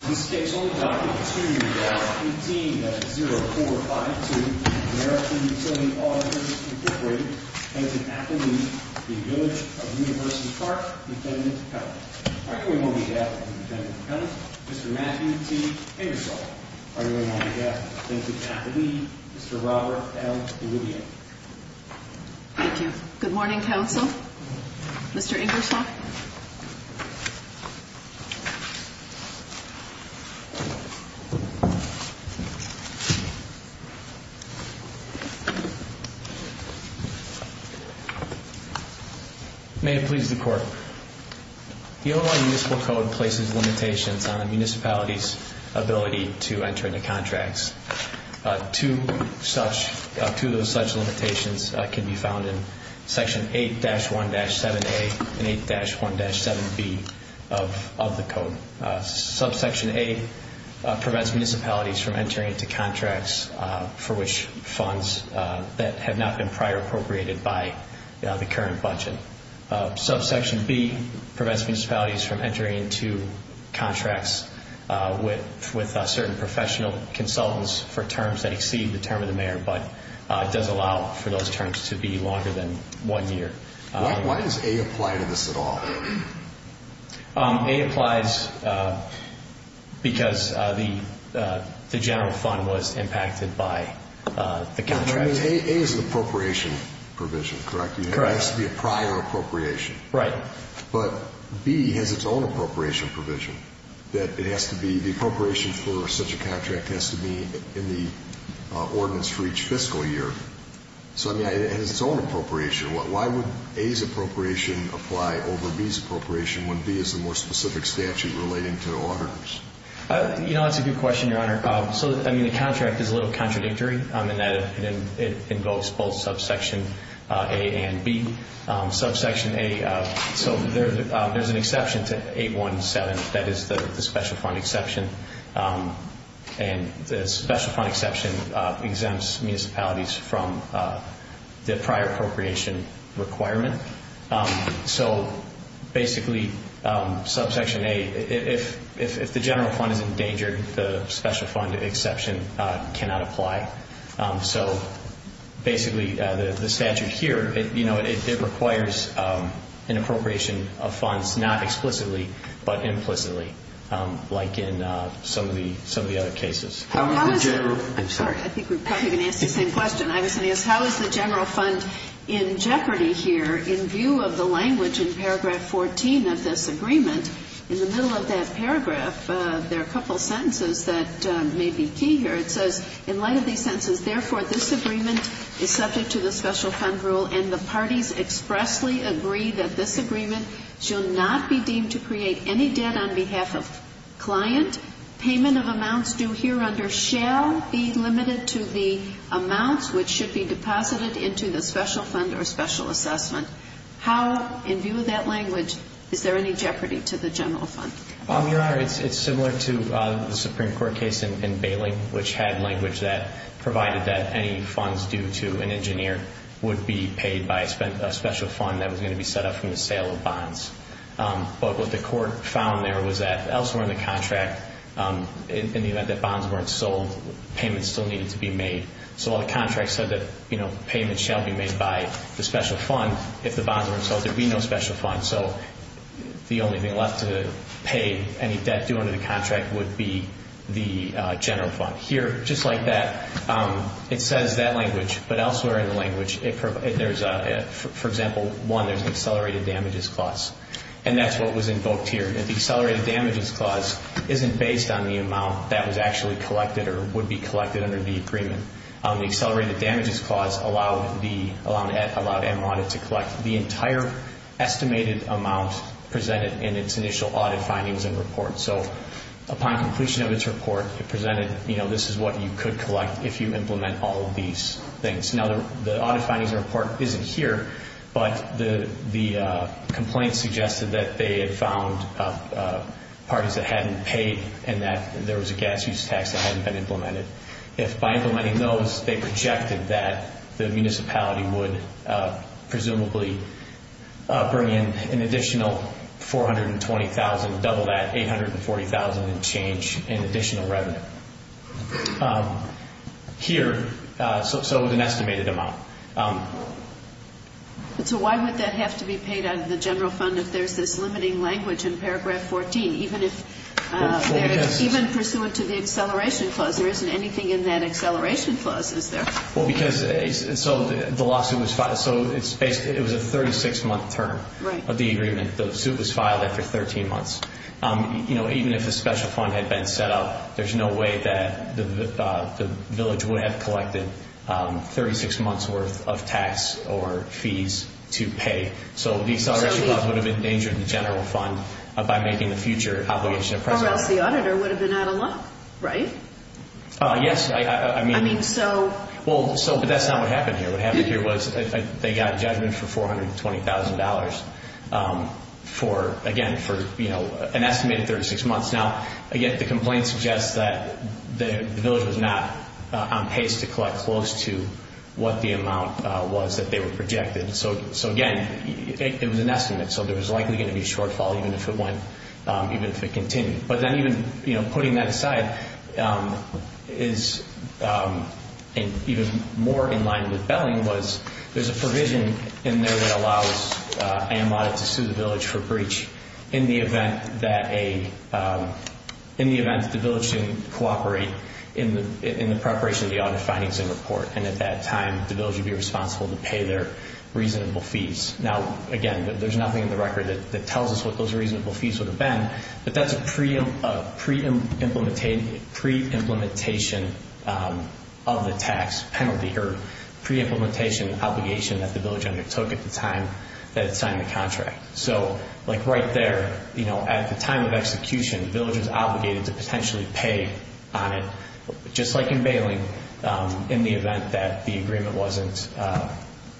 This case will be documented to you by 18-0452, American Utility Auditors Incorporated, Henson-Ackley v. Village of University Park, Lt. Co. Arguing on behalf of Lt. Co., Mr. Matthew T. Ingersoll. Arguing on behalf of Henson-Ackley, Mr. Robert L. O'Leary. Thank you. Good morning, counsel. Mr. Ingersoll. May it please the Court. The Illinois Municipal Code places limitations on a municipality's ability to enter into contracts. Two such limitations can be found in Section 8-1-7A and 8-1-7B of the Code. Subsection A prevents municipalities from entering into contracts for which funds that have not been prior appropriated by the current budget. Subsection B prevents municipalities from entering into contracts with certain professional consultants for terms that exceed the term of the mayor, but does allow for those terms to be longer than one year. Why does A apply to this at all? A applies because the general fund was impacted by the contract. I mean, A is an appropriation provision, correct? Correct. It has to be a prior appropriation. Right. But B has its own appropriation provision, that it has to be the appropriation for such a contract has to be in the ordinance for each fiscal year. So, I mean, it has its own appropriation. Why would A's appropriation apply over B's appropriation when B is the more specific statute relating to auditors? You know, that's a good question, Your Honor. So, I mean, the contract is a little contradictory in that it invokes both subsection A and B. Subsection A, so there's an exception to 8-1-7, that is the special fund exception, and the special fund exception exempts municipalities from the prior appropriation requirement. So, basically, subsection A, if the general fund is endangered, the special fund exception cannot apply. So, basically, the statute here, you know, it requires an appropriation of funds, not explicitly, but implicitly, like in some of the other cases. I'm sorry. I think we're probably going to ask the same question. I was going to ask, how is the general fund in jeopardy here in view of the language in paragraph 14 of this agreement? In the middle of that paragraph, there are a couple of sentences that may be key here. It says, in light of these sentences, therefore, this agreement is subject to the special fund rule, and the parties expressly agree that this agreement shall not be deemed to create any debt on behalf of client. Payment of amounts due here under shall be limited to the amounts which should be deposited into the special fund or special assessment. How, in view of that language, is there any jeopardy to the general fund? Your Honor, it's similar to the Supreme Court case in Bailing, which had language that provided that any funds due to an engineer would be paid by a special fund that was going to be set up from the sale of bonds. But what the court found there was that elsewhere in the contract, in the event that bonds weren't sold, payments still needed to be made. So while the contract said that payments shall be made by the special fund, if the bonds weren't sold, there would be no special fund. So the only thing left to pay any debt due under the contract would be the general fund. Here, just like that, it says that language. But elsewhere in the language, for example, one, there's an accelerated damages clause. And that's what was invoked here. The accelerated damages clause isn't based on the amount that was actually collected or would be collected under the agreement. The accelerated damages clause allowed M Audit to collect the entire estimated amount presented in its initial audit findings and reports. So upon completion of its report, it presented, you know, this is what you could collect if you implement all of these things. Now, the audit findings report isn't here, but the complaint suggested that they had found parties that hadn't paid and that there was a gas use tax that hadn't been implemented. If by implementing those, they projected that the municipality would presumably bring in an additional $420,000, double that $840,000 and change in additional revenue. Here, so an estimated amount. So why would that have to be paid out of the general fund if there's this limiting language in paragraph 14? Even pursuant to the acceleration clause, there isn't anything in that acceleration clause, is there? Well, because the lawsuit was filed. So it was a 36-month term of the agreement. The suit was filed after 13 months. You know, even if a special fund had been set up, there's no way that the village would have collected 36 months' worth of tax or fees to pay. So the acceleration clause would have endangered the general fund by making the future obligation of presence. Or else the auditor would have been out of luck, right? Yes. I mean, so. Well, so, but that's not what happened here. What happened here was they got a judgment for $420,000 for, again, for, you know, an estimated 36 months. Now, again, the complaint suggests that the village was not on pace to collect close to what the amount was that they were projected. So, again, it was an estimate. So there was likely going to be a shortfall even if it went, even if it continued. But then even, you know, putting that aside is, and even more in line with Belling, was there's a provision in there that allows AMA to sue the village for breach in the event that a, in the event that the village didn't cooperate in the preparation of the audit findings and report. And at that time, the village would be responsible to pay their reasonable fees. Now, again, there's nothing in the record that tells us what those reasonable fees would have been. But that's a pre-implementation of the tax penalty or pre-implementation obligation that the village undertook at the time that it signed the contract. So, like, right there, you know, at the time of execution, the village was obligated to potentially pay on it, just like in Belling, in the event that the agreement wasn't,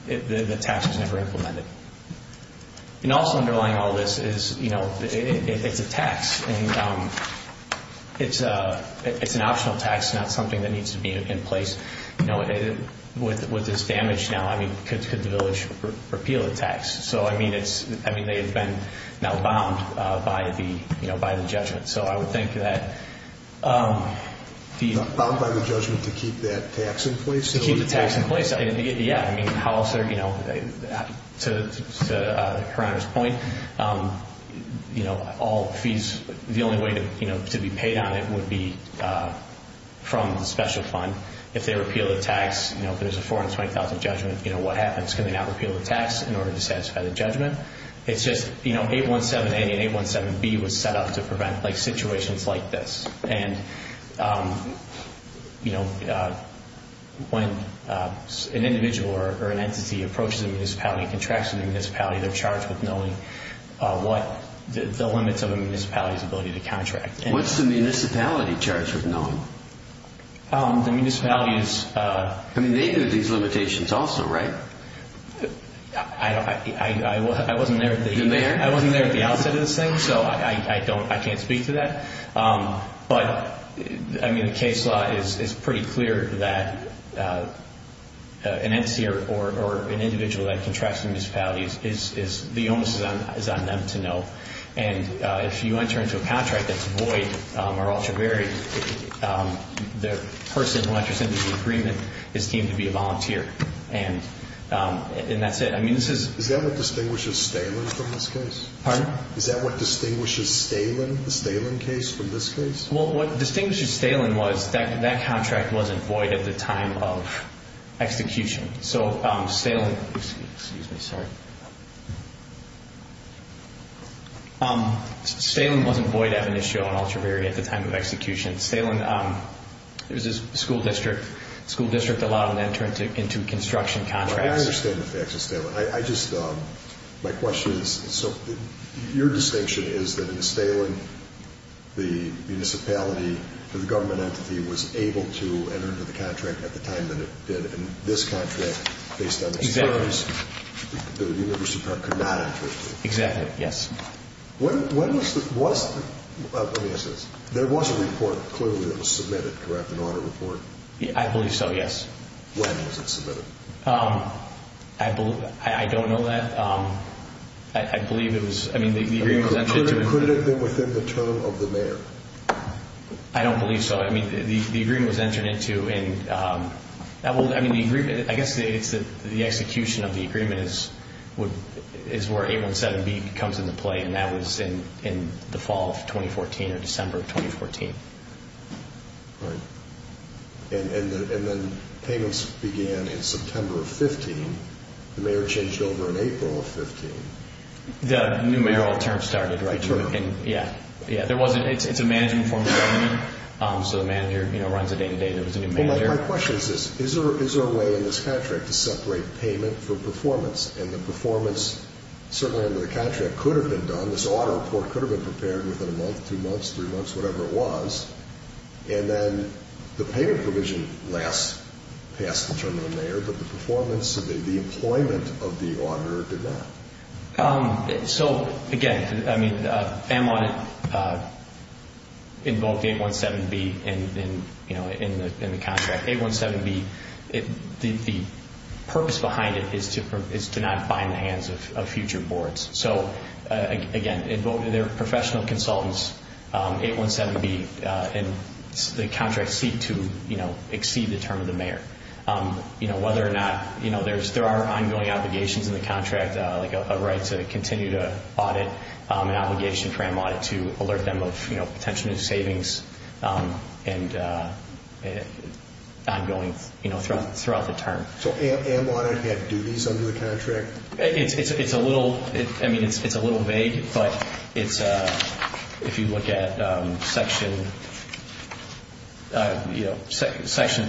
the tax was never implemented. And also underlying all this is, you know, it's a tax. And it's an optional tax, not something that needs to be in place. You know, with this damage now, I mean, could the village repeal the tax? So, I mean, it's, I mean, they have been now bound by the, you know, by the judgment. So I would think that the- Bound by the judgment to keep that tax in place? To keep the tax in place, yeah. I mean, how else are, you know, to Her Honor's point, you know, all fees, the only way, you know, to be paid on it would be from the special fund. If they repeal the tax, you know, if there's a $420,000 judgment, you know, what happens? Can they not repeal the tax in order to satisfy the judgment? It's just, you know, 817A and 817B was set up to prevent, like, situations like this. And, you know, when an individual or an entity approaches a municipality and contracts with a municipality, they're charged with knowing what the limits of a municipality's ability to contract. What's the municipality charged with knowing? The municipality is- I mean, they know these limitations also, right? I don't-I wasn't there at the- You weren't there? I wasn't there at the outset of this thing, so I don't-I can't speak to that. But, I mean, the case law is pretty clear that an entity or an individual that contracts with a municipality is-the onus is on them to know. And if you enter into a contract that's void or ultra-varied, the person who enters into the agreement is deemed to be a volunteer. And that's it. I mean, this is- Is that what distinguishes Stalen from this case? Pardon? Is that what distinguishes Stalen, the Stalen case, from this case? Well, what distinguishes Stalen was that that contract wasn't void at the time of execution. So, Stalen-excuse me, sorry. Stalen wasn't void, ebonitio, and ultra-varied at the time of execution. Stalen-it was a school district. The school district allowed them to enter into construction contracts. I understand the facts of Stalen. I just-my question is-so, your distinction is that in Stalen, the municipality, the government entity, was able to enter into the contract at the time that it did. And this contract, based on experience- Exactly. The university part could not enter into it. Exactly, yes. When was the-let me ask this. There was a report, clearly, that was submitted, correct, an audit report? I believe so, yes. When was it submitted? I don't know that. I believe it was-I mean, the agreement was- Could it have been within the term of the mayor? I don't believe so. I mean, the agreement was entered into in-I guess the execution of the agreement is where 817B comes into play, and that was in the fall of 2014 or December of 2014. Right. And then payments began in September of 15. The mayor changed over in April of 15. The new mayoral term started, right? Sure. Yeah. There wasn't-it's a management form of government, so the manager runs it day-to-day. There was a new mayor. My question is this. Is there a way in this contract to separate payment from performance? And the performance, certainly under the contract, could have been done. This audit report could have been prepared within a month, two months, three months, whatever it was. And then the payment provision passed the term of the mayor, but the performance, the employment of the auditor did not. So, again, I mean, AMLON invoked 817B in the contract. 817B, the purpose behind it is to not bind the hands of future boards. So, again, they're professional consultants, 817B, and the contract seeked to exceed the term of the mayor. Whether or not there are ongoing obligations in the contract, like a right to continue to audit, an obligation for AMLON to alert them of potential new savings and ongoing throughout the term. So AMLON had duties under the contract? It's a little vague, but it's, if you look at Section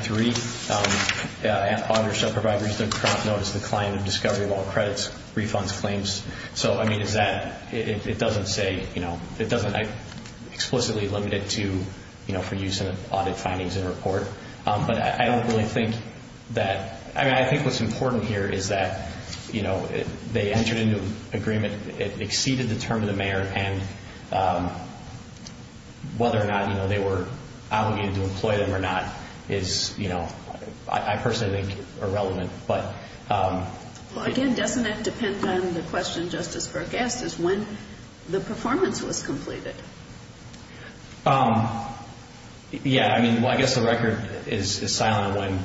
3, auditors shall provide reason to prompt notice to the client of discovery of all credits, refunds, claims. So, I mean, it doesn't say, you know, it doesn't explicitly limit it to, you know, for use in audit findings and report. But I don't really think that, I mean, I think what's important here is that, you know, they entered into agreement, it exceeded the term of the mayor, and whether or not, you know, they were obligated to employ them or not is, you know, I personally think irrelevant. But... Well, again, doesn't that depend on the question Justice Burke asked is when the performance was completed? Yeah, I mean, well, I guess the record is silent on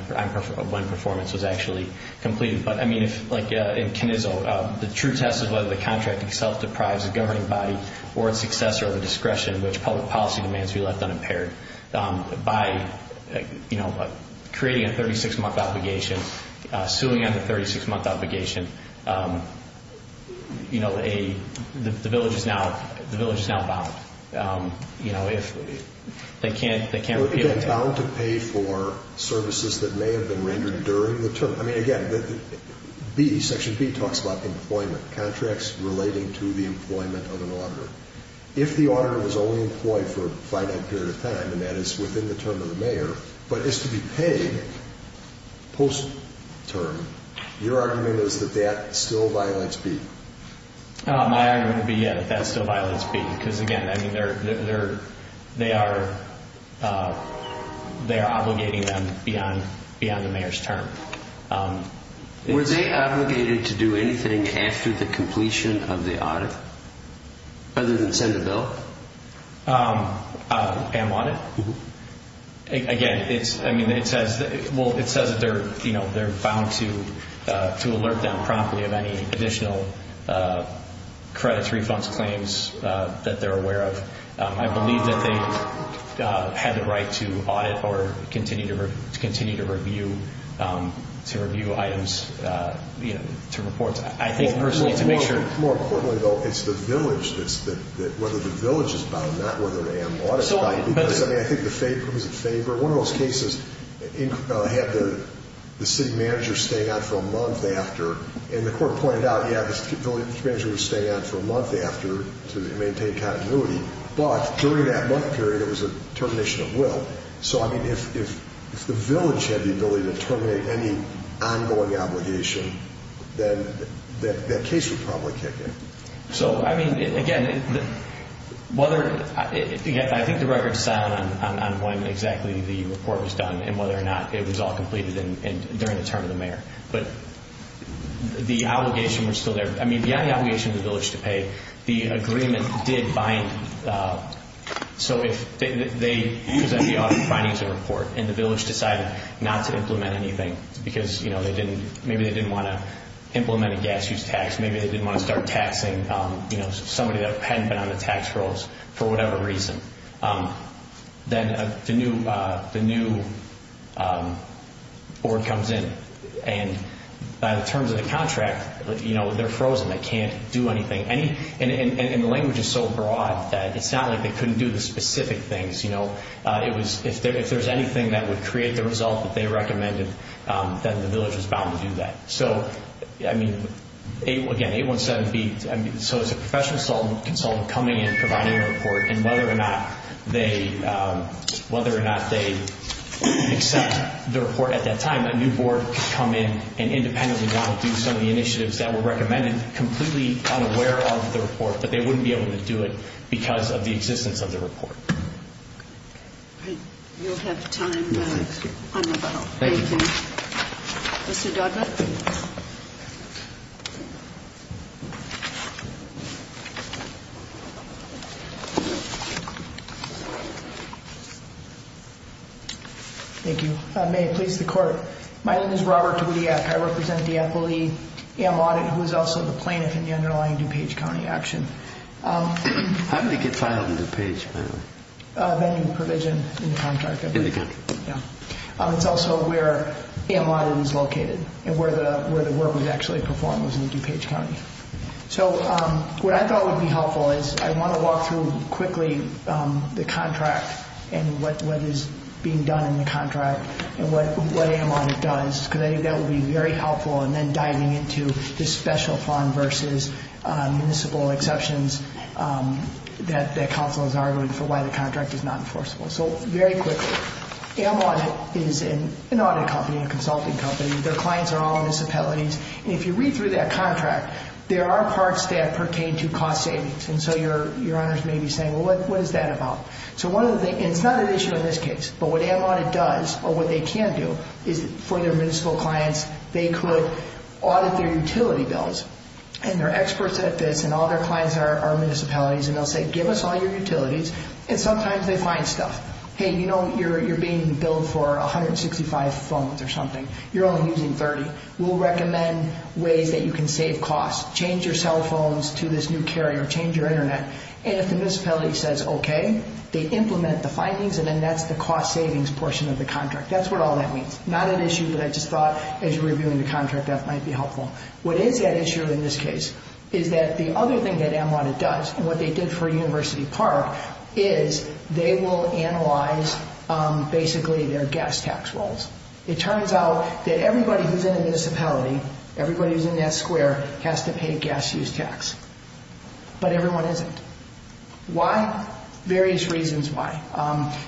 when performance was actually completed. But, I mean, like in Knizzo, the true test is whether the contract itself deprives the governing body or its successor of the discretion which public policy demands to be left unimpaired. By, you know, creating a 36-month obligation, suing on the 36-month obligation, you know, the village is now bound. You know, if they can't... Bound to pay for services that may have been rendered during the term. I mean, again, section B talks about employment, contracts relating to the employment of an auditor. If the auditor is only employed for a finite period of time, and that is within the term of the mayor, but is to be paid post-term, your argument is that that still violates B. My argument would be, yeah, that that still violates B. Because, again, I mean, they are obligating them beyond the mayor's term. Were they obligated to do anything after the completion of the audit other than send a bill? An audit? Mm-hmm. Again, I mean, it says that they're bound to alert them promptly of any additional credits, refunds, claims that they're aware of. I believe that they had the right to audit or continue to review items, you know, to report. I think, personally, to make sure... More importantly, though, it's the village that's the... Whether the village is bound, not whether the audit body is. I think the favor... One of those cases had the city manager staying on for a month after, and the court pointed out, yeah, the city manager was staying on for a month after to maintain continuity. But during that month period, it was a termination of will. So, I mean, if the village had the ability to terminate any ongoing obligation, then that case would probably kick in. So, I mean, again, whether... Again, I think the record's silent on when exactly the report was done and whether or not it was all completed during the term of the mayor. But the obligation was still there. I mean, beyond the obligation of the village to pay, the agreement did bind. So if they presented the audit findings and report, and the village decided not to implement anything because, you know, maybe they didn't want to implement a gas use tax, maybe they didn't want to start taxing, you know, somebody that hadn't been on the tax rolls for whatever reason, then the new board comes in. And by the terms of the contract, you know, they're frozen. They can't do anything. And the language is so broad that it's not like they couldn't do the specific things, you know. If there's anything that would create the result that they recommended, then the village was bound to do that. So, I mean, again, 817B, so it's a professional consultant coming in, providing a report, and whether or not they accept the report at that time, a new board could come in and independently want to do some of the initiatives that were recommended, completely unaware of the report, that they wouldn't be able to do it because of the existence of the report. You'll have time on the phone. Thank you. Mr. Dudman. Thank you. May it please the Court, my name is Robert Dudiak. I represent the FLEM audit, who is also the plaintiff in the underlying DuPage County action. How did it get filed in DuPage, by the way? Vending provision in the contract. In the contract. Yeah. It's also where AM Audit is located, and where the work was actually performed, was in DuPage County. So what I thought would be helpful is I want to walk through quickly the contract and what is being done in the contract and what AM Audit does, because I think that would be very helpful, and then diving into the special fund versus municipal exceptions that counsel has argued for why the contract is not enforceable. So very quickly, AM Audit is an audit company, a consulting company. Their clients are all municipalities, and if you read through that contract, there are parts that pertain to cost savings, and so your honors may be saying, well, what is that about? So one of the things, and it's not an issue in this case, but what AM Audit does, or what they can do, is for their municipal clients, they could audit their utility bills, and they're experts at this, and all their clients are municipalities, and they'll say, give us all your utilities, and sometimes they find stuff. Hey, you know, you're being billed for 165 phones or something. You're only using 30. We'll recommend ways that you can save costs. Change your cell phones to this new carrier. Change your Internet. And if the municipality says okay, they implement the findings, and then that's the cost savings portion of the contract. That's what all that means. Not an issue, but I just thought as you were reviewing the contract, that might be helpful. What is that issue in this case is that the other thing that AM Audit does and what they did for University Park is they will analyze, basically, their gas tax rolls. It turns out that everybody who's in a municipality, everybody who's in that square has to pay a gas use tax, but everyone isn't. Why? Various reasons why.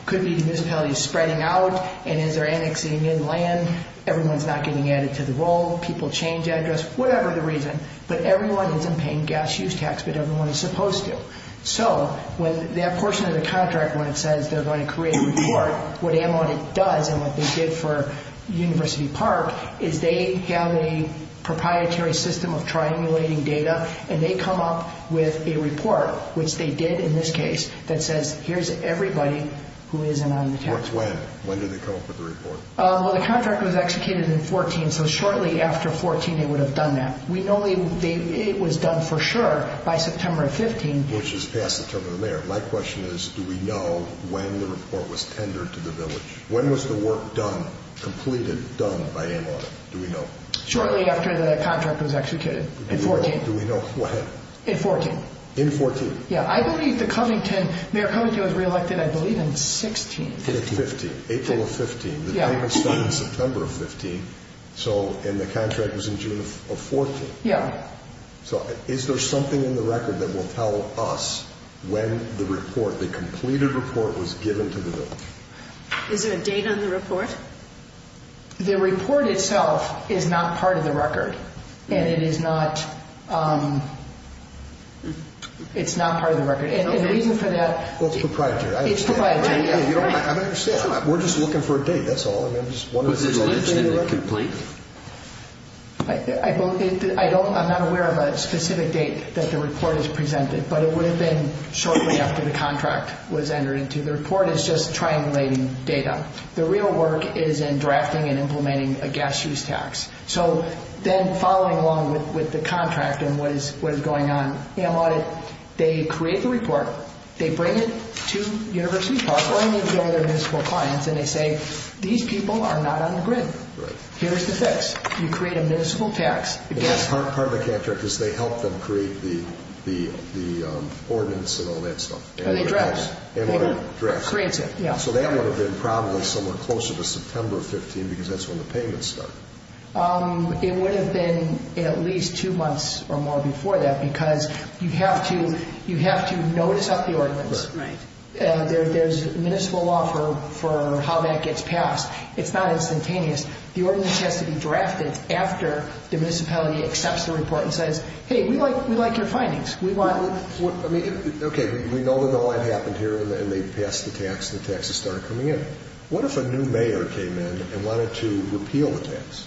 Could be the municipality is spreading out, and as they're annexing in land, everyone's not getting added to the roll, people change address, whatever the reason, but everyone isn't paying gas use tax, but everyone is supposed to. So when that portion of the contract, when it says they're going to create a report, what AM Audit does and what they did for University Park is they have a proprietary system of triangulating data, and they come up with a report, which they did in this case, that says here's everybody who isn't on the tax. When? When do they come up with the report? Well, the contract was executed in 2014, so shortly after 2014, they would have done that. We know it was done for sure by September of 15. Which is past the term of the mayor. My question is, do we know when the report was tendered to the village? When was the work done, completed, done by AM Audit? Do we know? Shortly after the contract was executed, in 14. Do we know when? In 14. In 14. Yeah, I believe the Covington, Mayor Covington was re-elected, I believe, in 16. 15, April of 15. The date was done in September of 15, and the contract was in June of 14. Yeah. So is there something in the record that will tell us when the report, the completed report, was given to the village? Is there a date on the report? The report itself is not part of the record, and it is not part of the record. And the reason for that – Well, it's proprietary. It's proprietary, yeah. I understand. We're just looking for a date, that's all. Was the village in it complete? I'm not aware of a specific date that the report is presented, but it would have been shortly after the contract was entered into. The report is just triangulating data. The real work is in drafting and implementing a gas use tax. So then following along with the contract and what is going on, they create the report, they bring it to University Park, or any of the other municipal clients, and they say, these people are not on the grid. Here's the fix. You create a municipal tax. Part of the contract is they help them create the ordinance and all that stuff. And they draft it. And they draft it. Creates it, yeah. So that would have been probably somewhere closer to September 15 because that's when the payments start. It would have been at least two months or more before that because you have to notice up the ordinance. Right. There's municipal law for how that gets passed. It's not instantaneous. The ordinance has to be drafted after the municipality accepts the report and says, hey, we like your findings. Okay, we know what happened here, and they passed the tax, and the taxes started coming in. What if a new mayor came in and wanted to repeal the tax?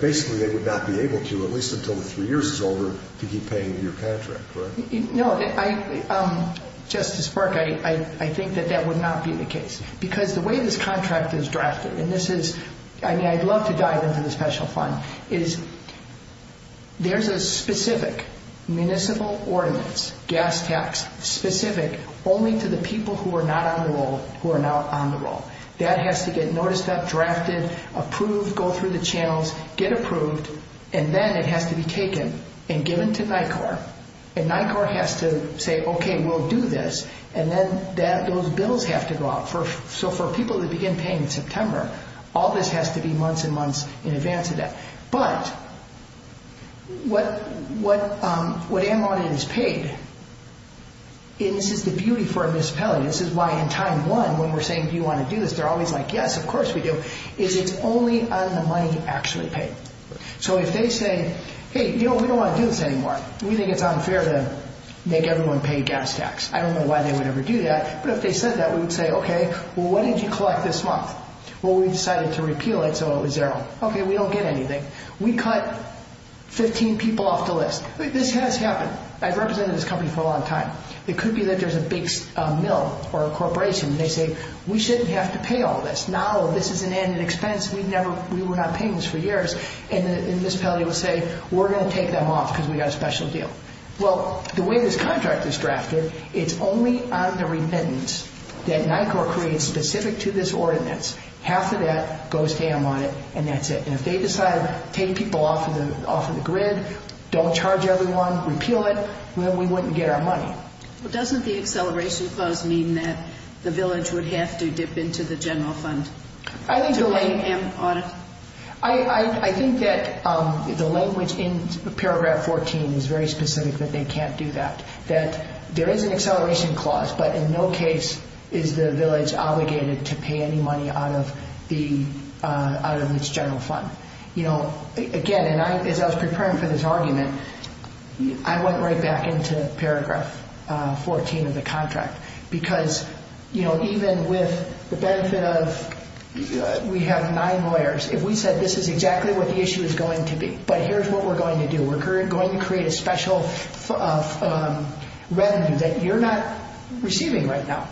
Basically they would not be able to, at least until the three years is over, to keep paying your contract, correct? No. Justice Burke, I think that that would not be the case because the way this contract is drafted, and I'd love to dive into the special fund, is there's a specific municipal ordinance, gas tax, specific only to the people who are not on the roll who are not on the roll. That has to get noticed up, drafted, approved, go through the channels, get approved, and then it has to be taken and given to NICOR, and NICOR has to say, okay, we'll do this, and then those bills have to go out. So for people to begin paying in September, all this has to be months and months in advance of that. But what ammo on it is paid, and this is the beauty for a municipality, and this is why in time one when we're saying, do you want to do this, they're always like, yes, of course we do, is it's only on the money actually paid. So if they say, hey, we don't want to do this anymore, we think it's unfair to make everyone pay gas tax. I don't know why they would ever do that, but if they said that, we would say, okay, well, what did you collect this month? Well, we decided to repeal it so it was zero. Okay, we don't get anything. We cut 15 people off the list. This has happened. I've represented this company for a long time. It could be that there's a big mill or a corporation, and they say, we shouldn't have to pay all this. Now this is an added expense. We were not paying this for years. And the municipality will say, we're going to take them off because we've got a special deal. Well, the way this contract is drafted, it's only on the remittance that NICOR creates specific to this ordinance. Half of that goes to ammo on it, and that's it. And if they decide to take people off of the grid, don't charge everyone, repeal it, well, we wouldn't get our money. Well, doesn't the acceleration clause mean that the village would have to dip into the general fund to pay ammo on it? I think that the language in paragraph 14 is very specific that they can't do that, that there is an acceleration clause, but in no case is the village obligated to pay any money out of its general fund. Again, as I was preparing for this argument, I went right back into paragraph 14 of the contract, because even with the benefit of we have nine lawyers, if we said this is exactly what the issue is going to be, but here's what we're going to do. We're going to create a special revenue that you're not receiving right now.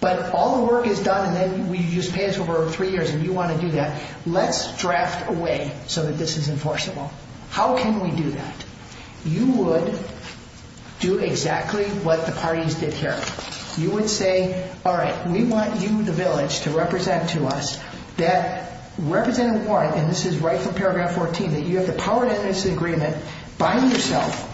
But all the work is done, and then we just pay us over three years, and you want to do that. Let's draft a way so that this is enforceable. How can we do that? You would do exactly what the parties did here. You would say, all right, we want you, the village, to represent to us that representative warrant, and this is right from paragraph 14, that you have the power in this agreement by yourself,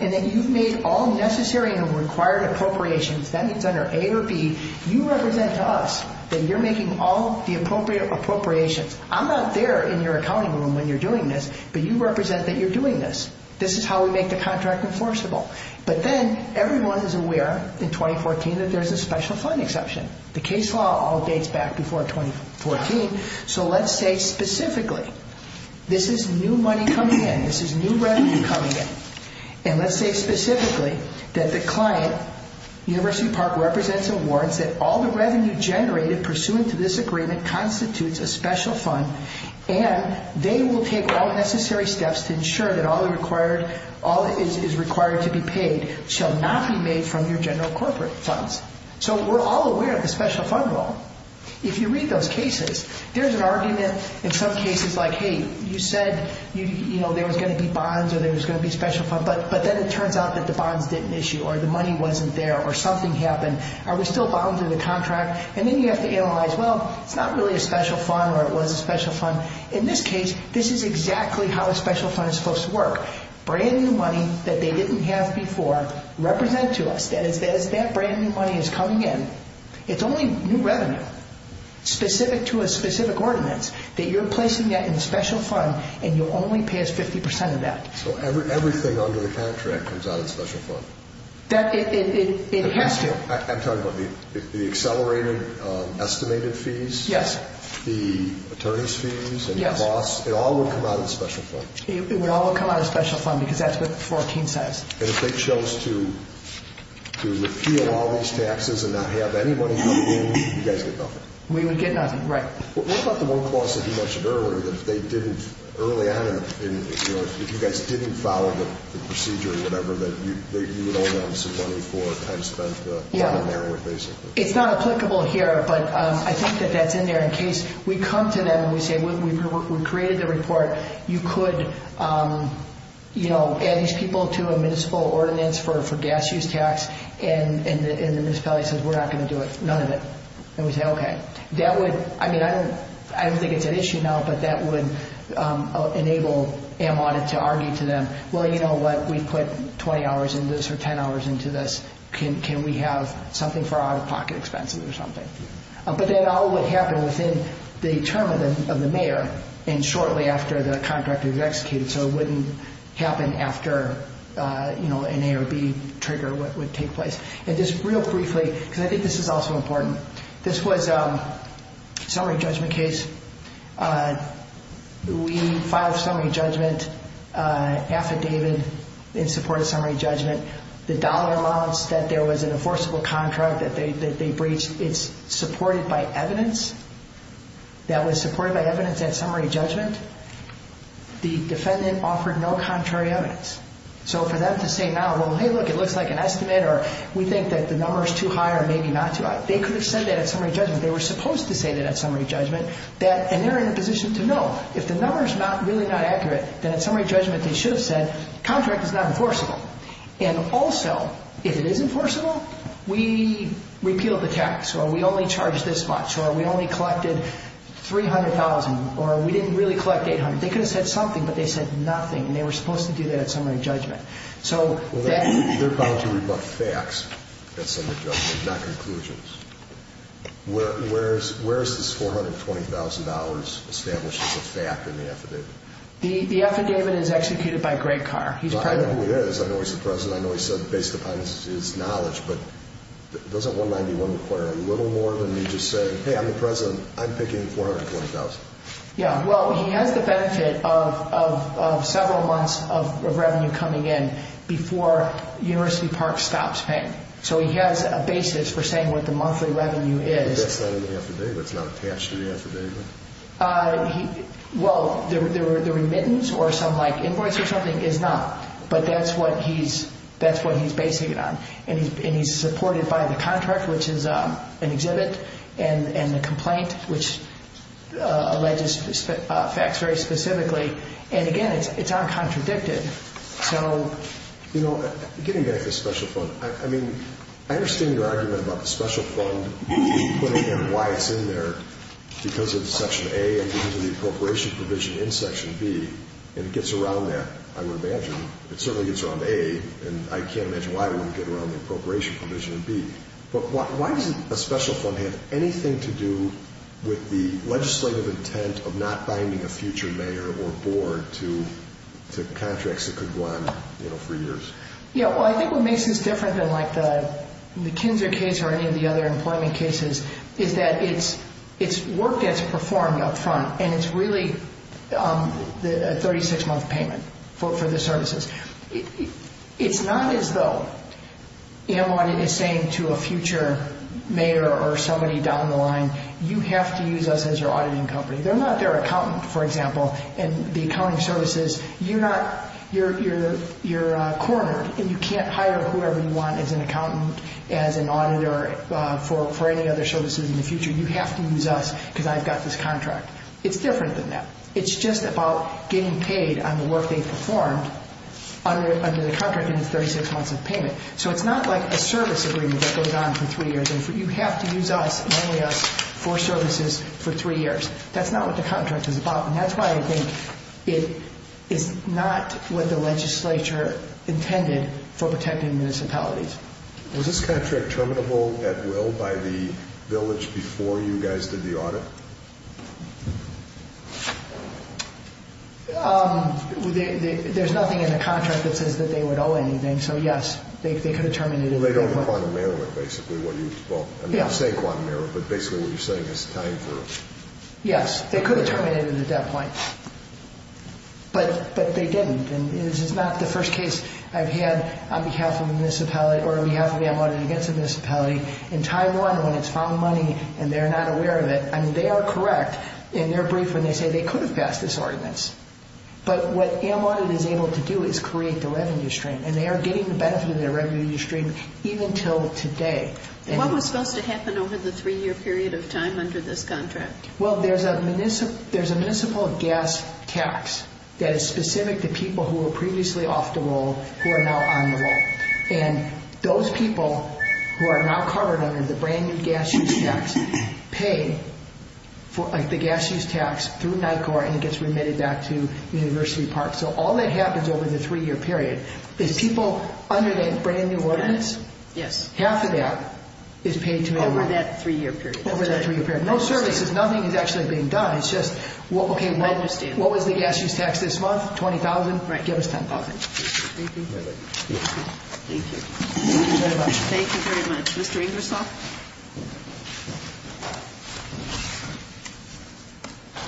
and that you've made all necessary and required appropriations, that means under A or B, you represent to us that you're making all the appropriate appropriations. I'm not there in your accounting room when you're doing this, but you represent that you're doing this. This is how we make the contract enforceable. But then everyone is aware in 2014 that there's a special fund exception. The case law all dates back before 2014. So let's say specifically this is new money coming in, this is new revenue coming in, and let's say specifically that the client, University Park, represents a warrant that all the revenue generated pursuant to this agreement constitutes a special fund, and they will take all necessary steps to ensure that all is required to be paid shall not be made from your general corporate funds. So we're all aware of the special fund rule. If you read those cases, there's an argument in some cases like, hey, you said there was going to be bonds or there was going to be a special fund, but then it turns out that the bonds didn't issue or the money wasn't there or something happened. Are we still bound to the contract? And then you have to analyze, well, it's not really a special fund or it was a special fund. In this case, this is exactly how a special fund is supposed to work. Brand new money that they didn't have before represent to us. That is, that brand new money is coming in. It's only new revenue specific to a specific ordinance that you're placing that in a special fund and you'll only pay us 50% of that. So everything under the contract comes out of the special fund? It has to. I'm talking about the accelerated estimated fees? Yes. The attorney's fees and the costs? Yes. It all would come out of the special fund? It would all come out of the special fund because that's what 14 says. And if they chose to repeal all these taxes and not have anybody come in, you guys get nothing? We would get nothing, right. What about the work loss that you mentioned earlier that if they didn't early on, if you guys didn't follow the procedure or whatever, that you would owe them some money for time spent on their work, basically? It's not applicable here, but I think that that's in there in case we come to them and we say we created the report, you could, you know, add these people to a municipal ordinance for gas use tax, and the municipality says we're not going to do it, none of it. And we say, okay. That would, I mean, I don't think it's an issue now, but that would enable AM Audit to argue to them, well, you know what, we put 20 hours into this or 10 hours into this, can we have something for out-of-pocket expenses or something? But that all would happen within the term of the mayor and shortly after the contractor is executed, so it wouldn't happen after, you know, an A or B trigger would take place. And just real briefly, because I think this is also important, this was a summary judgment case. We filed summary judgment affidavit in support of summary judgment. The dollar amounts that there was an enforceable contract that they breached, it's supported by evidence. That was supported by evidence at summary judgment. The defendant offered no contrary evidence. So for them to say now, well, hey, look, it looks like an estimate or we think that the number is too high or maybe not too high, they could have said that at summary judgment. They were supposed to say that at summary judgment, and they're in a position to know if the number is really not accurate, then at summary judgment they should have said contract is not enforceable. And also, if it is enforceable, we repealed the tax or we only charged this much or we only collected $300,000 or we didn't really collect $800,000. They could have said something, but they said nothing, and they were supposed to do that at summary judgment. Well, they're bound to read about facts at summary judgment, not conclusions. Where is this $420,000 established as a fact in the affidavit? The affidavit is executed by Gray Carr. I know who he is. I know he's the president. I know he said based upon his knowledge, but doesn't 191 require a little more than you just say, hey, I'm the president, I'm picking $420,000? Well, he has the benefit of several months of revenue coming in before University Park stops paying. So he has a basis for saying what the monthly revenue is. That's not in the affidavit. It's not attached to the affidavit. Well, the remittance or some invoice or something is not, but that's what he's basing it on. And he's supported by the contract, which is an exhibit, and the complaint, which alleges facts very specifically. And, again, it's uncontradicted. So, you know, getting back to the special fund, I mean, I understand your argument about the special fund and why it's in there because of Section A and because of the appropriation provision in Section B, and it gets around that, I would imagine. It certainly gets around A, and I can't imagine why it wouldn't get around the appropriation provision in B. But why doesn't a special fund have anything to do with the legislative intent of not binding a future mayor or board to contracts that could go on, you know, for years? Yeah, well, I think what makes this different than, like, the Kinzer case or any of the other employment cases is that its work gets performed up front, and it's really a 36-month payment for the services. It's not as though, you know, what it is saying to a future mayor or somebody down the line, you have to use us as your auditing company. They're not their accountant, for example, and the accounting services, you're cornered, and you can't hire whoever you want as an accountant, as an auditor for any other services in the future. You have to use us because I've got this contract. It's different than that. It's just about getting paid on the work they've performed under the contract and its 36 months of payment. So it's not like a service agreement that goes on for three years. You have to use us, and only us, for services for three years. That's not what the contract is about, and that's why I think it is not what the legislature intended for protecting municipalities. Was this contract terminable at will by the village before you guys did the audit? There's nothing in the contract that says that they would owe anything. So, yes, they could have terminated it at that point. They don't have a quantum error, basically. Well, I'm not saying quantum error, but basically what you're saying is time for it. Yes, they could have terminated it at that point, but they didn't, and this is not the first case I've had on behalf of a municipality or on behalf of the Audit Against a Municipality. In Taiwan, when it's found money and they're not aware of it, I mean, they are correct in their brief when they say they could have passed this ordinance, but what AMAudit is able to do is create the revenue stream, and they are getting the benefit of their revenue stream even until today. What was supposed to happen over the three-year period of time under this contract? Well, there's a municipal gas tax that is specific to people who were previously off the roll who are now on the roll, and those people who are now covered under the brand-new gas use tax pay the gas use tax through NICOR, and it gets remitted back to University Park. So all that happens over the three-year period is people under the brand-new ordinance, half of that is paid to them. Over that three-year period. Over that three-year period. No services, nothing is actually being done. It's just, okay, what was the gas use tax this month? $20,000? Right. Give us $10,000. Okay. Thank you. Thank you very much. Thank you very much. Mr. Ingersoll?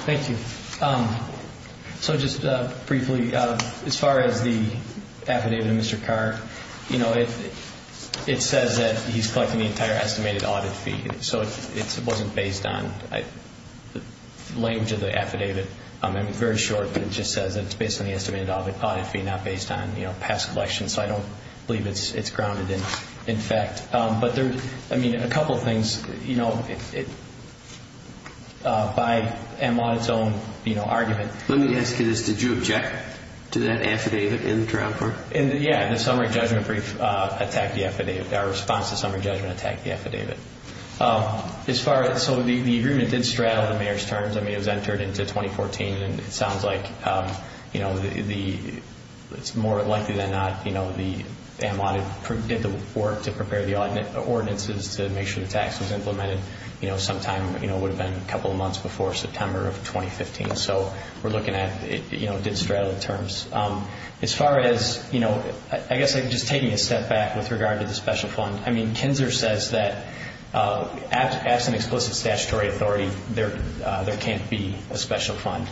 Thank you. So just briefly, as far as the affidavit of Mr. Carr, you know, it says that he's collecting the entire estimated audit fee, so it wasn't based on the language of the affidavit. It's very short, but it just says it's based on the estimated audit fee, not based on past collections. So I don't believe it's grounded in fact. But, I mean, a couple of things, you know, by and on its own, you know, argument. Let me ask you this. Did you object to that affidavit in the trial court? Yeah. The summary judgment brief attacked the affidavit. Our response to summary judgment attacked the affidavit. So the agreement did straddle the mayor's terms. I mean, it was entered into 2014, and it sounds like, you know, it's more likely than not, you know, the M1 did the work to prepare the ordinances to make sure the tax was implemented, you know, sometime, you know, it would have been a couple of months before September of 2015. So we're looking at it, you know, did straddle the terms. As far as, you know, I guess just taking a step back with regard to the special fund, I mean, Kinzer says that absent explicit statutory authority, there can't be a special fund.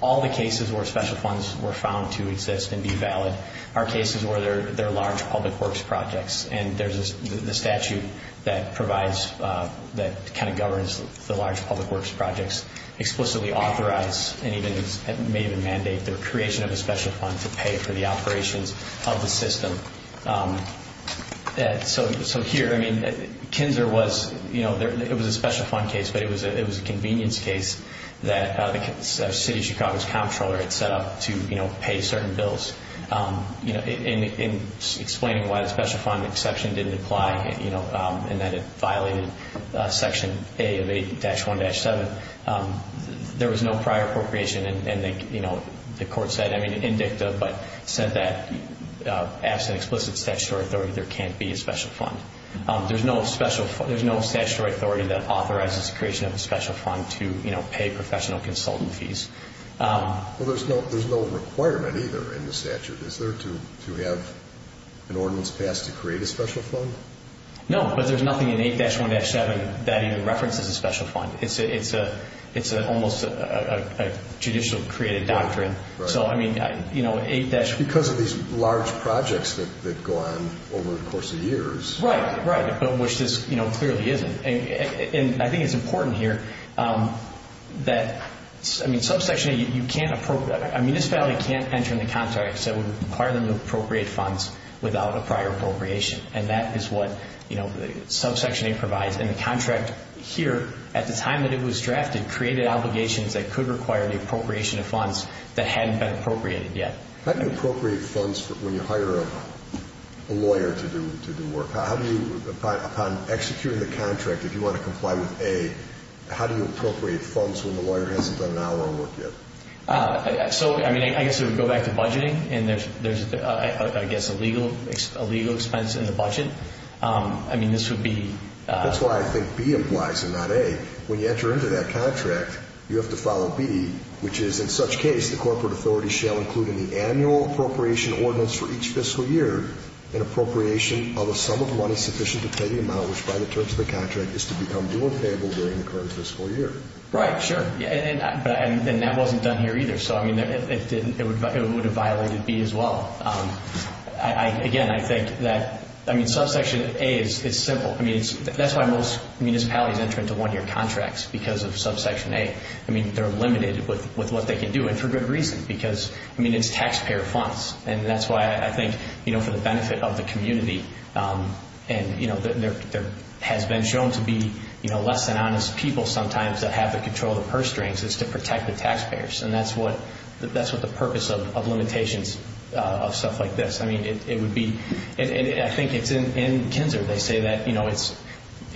All the cases where special funds were found to exist and be valid are cases where there are large public works projects, and there's the statute that provides, that kind of governs the large public works projects, explicitly authorize and may even mandate the creation of a special fund to pay for the operations of the system. So here, I mean, Kinzer was, you know, it was a special fund case, but it was a convenience case that the city of Chicago's comptroller had set up to, you know, pay certain bills. In explaining why the special fund exception didn't apply, you know, and that it violated Section A of 8-1-7, there was no prior appropriation, and, you know, the court said, I mean, indicted, but said that absent explicit statutory authority, there can't be a special fund. There's no statutory authority that authorizes the creation of a special fund to, you know, pay professional consultant fees. Well, there's no requirement either in the statute. Is there to have an ordinance passed to create a special fund? No, but there's nothing in 8-1-7 that even references a special fund. It's almost a judicial created doctrine. So, I mean, you know, 8- Because of these large projects that go on over the course of years. Right, right, but which this, you know, clearly isn't. And I think it's important here that, I mean, subsection 8, you can't appropriate. A municipality can't enter into contracts that would require them to appropriate funds without a prior appropriation, and that is what, you know, subsection 8 provides. And the contract here, at the time that it was drafted, created obligations that could require the appropriation of funds that hadn't been appropriated yet. How do you appropriate funds when you hire a lawyer to do work? How do you, upon executing the contract, if you want to comply with A, how do you appropriate funds when the lawyer hasn't done an hour of work yet? So, I mean, I guess it would go back to budgeting, and there's, I guess, a legal expense in the budget. I mean, this would be- That's why I think B implies and not A. When you enter into that contract, you have to follow B, which is, in such case, the corporate authority shall include in the annual appropriation ordinance for each fiscal year an appropriation of a sum of money sufficient to pay the amount which, by the terms of the contract, is to become due and payable during the current fiscal year. Right, sure. And that wasn't done here either. So, I mean, it would have violated B as well. Again, I think that, I mean, subsection A is simple. I mean, that's why most municipalities enter into one-year contracts, because of subsection A. I mean, they're limited with what they can do, and for good reason, because, I mean, it's taxpayer funds. And that's why I think, you know, for the benefit of the community, and, you know, there has been shown to be, you know, less than honest people sometimes that have the control of the purse strings, is to protect the taxpayers. And that's what the purpose of limitations of stuff like this. I mean, it would be- I think it's in KINZER, they say that, you know, it's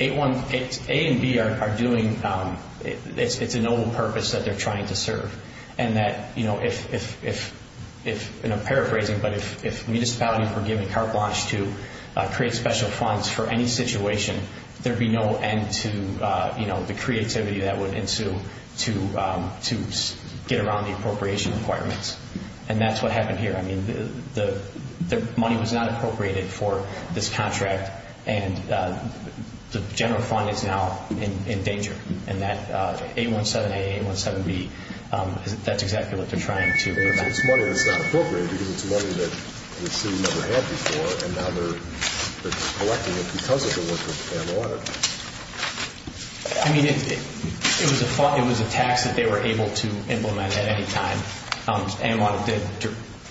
A and B are doing- it's a noble purpose that they're trying to serve. And that, you know, if- and I'm paraphrasing, but if municipalities were given carte blanche to create special funds for any situation, there'd be no end to, you know, the creativity that would ensue to get around the appropriation requirements. And that's what happened here. I mean, the money was not appropriated for this contract, and the general fund is now in danger. And that 817-A, 817-B, that's exactly what they're trying to do. So it's money that's not appropriated because it's money that the city never had before, and now they're collecting it because of the work of ANWR. I mean, it was a tax that they were able to implement at any time. ANWR did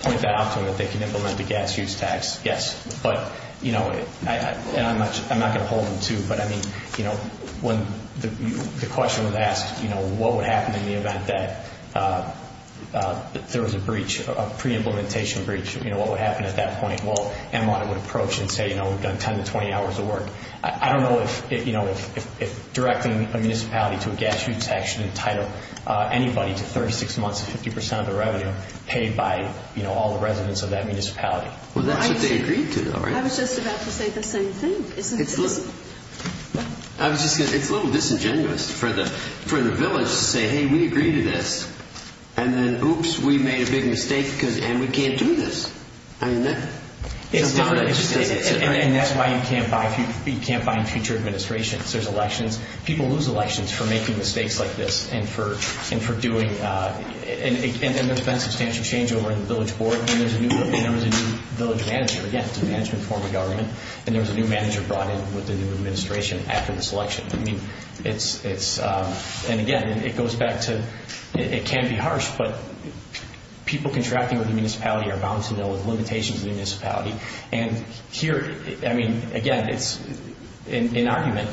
point that out to them that they can implement the gas use tax, yes. But, you know, and I'm not going to hold them to, but I mean, you know, when the question was asked, you know, what would happen in the event that there was a breach, a pre-implementation breach, you know, what would happen at that point? Well, ANWR would approach and say, you know, we've done 10 to 20 hours of work. I don't know if, you know, if directing a municipality to a gas use tax should entitle anybody to 36 months of 50 percent of the revenue paid by, you know, all the residents of that municipality. Well, that's what they agreed to. I was just about to say the same thing. I was just going to say it's a little disingenuous for the village to say, hey, we agree to this, and then, oops, we made a big mistake, and we can't do this. I mean, that's not what it says. And that's why you can't buy future administrations. There's elections. People lose elections for making mistakes like this and for doing, and there's been substantial change over in the village board, and there was a new village manager. Again, it's a management form of government. And there was a new manager brought in with the new administration after this election. I mean, it's, and again, it goes back to it can be harsh, but people contracting with the municipality are bound to know the limitations of the municipality. And here, I mean, again, it's an argument.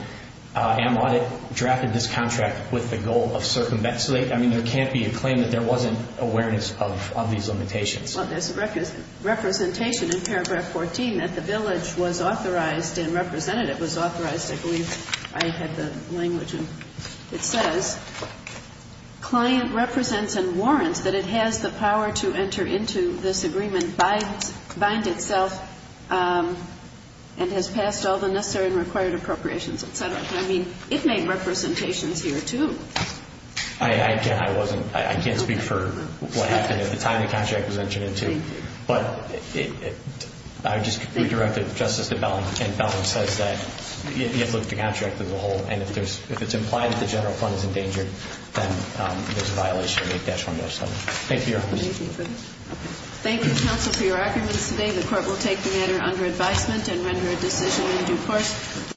Am Audit drafted this contract with the goal of circumventing. I mean, there can't be a claim that there wasn't awareness of these limitations. Well, there's representation in paragraph 14 that the village was authorized and representative was authorized, I believe. I had the language, and it says, client represents and warrants that it has the power to enter into this agreement bind itself and has passed all the necessary and required appropriations, et cetera. I mean, it made representations here too. I wasn't, I can't speak for what happened at the time the contract was entered into, but I would just redirect it to Justice DeBellin. And DeBellin says that he has looked at the contract as a whole, and if it's implied that the general fund is in danger, then there's a violation of 8-1-7. Thank you, Your Honor. Thank you, counsel, for your arguments today. The court will take the matter under advisement and render a decision in due course.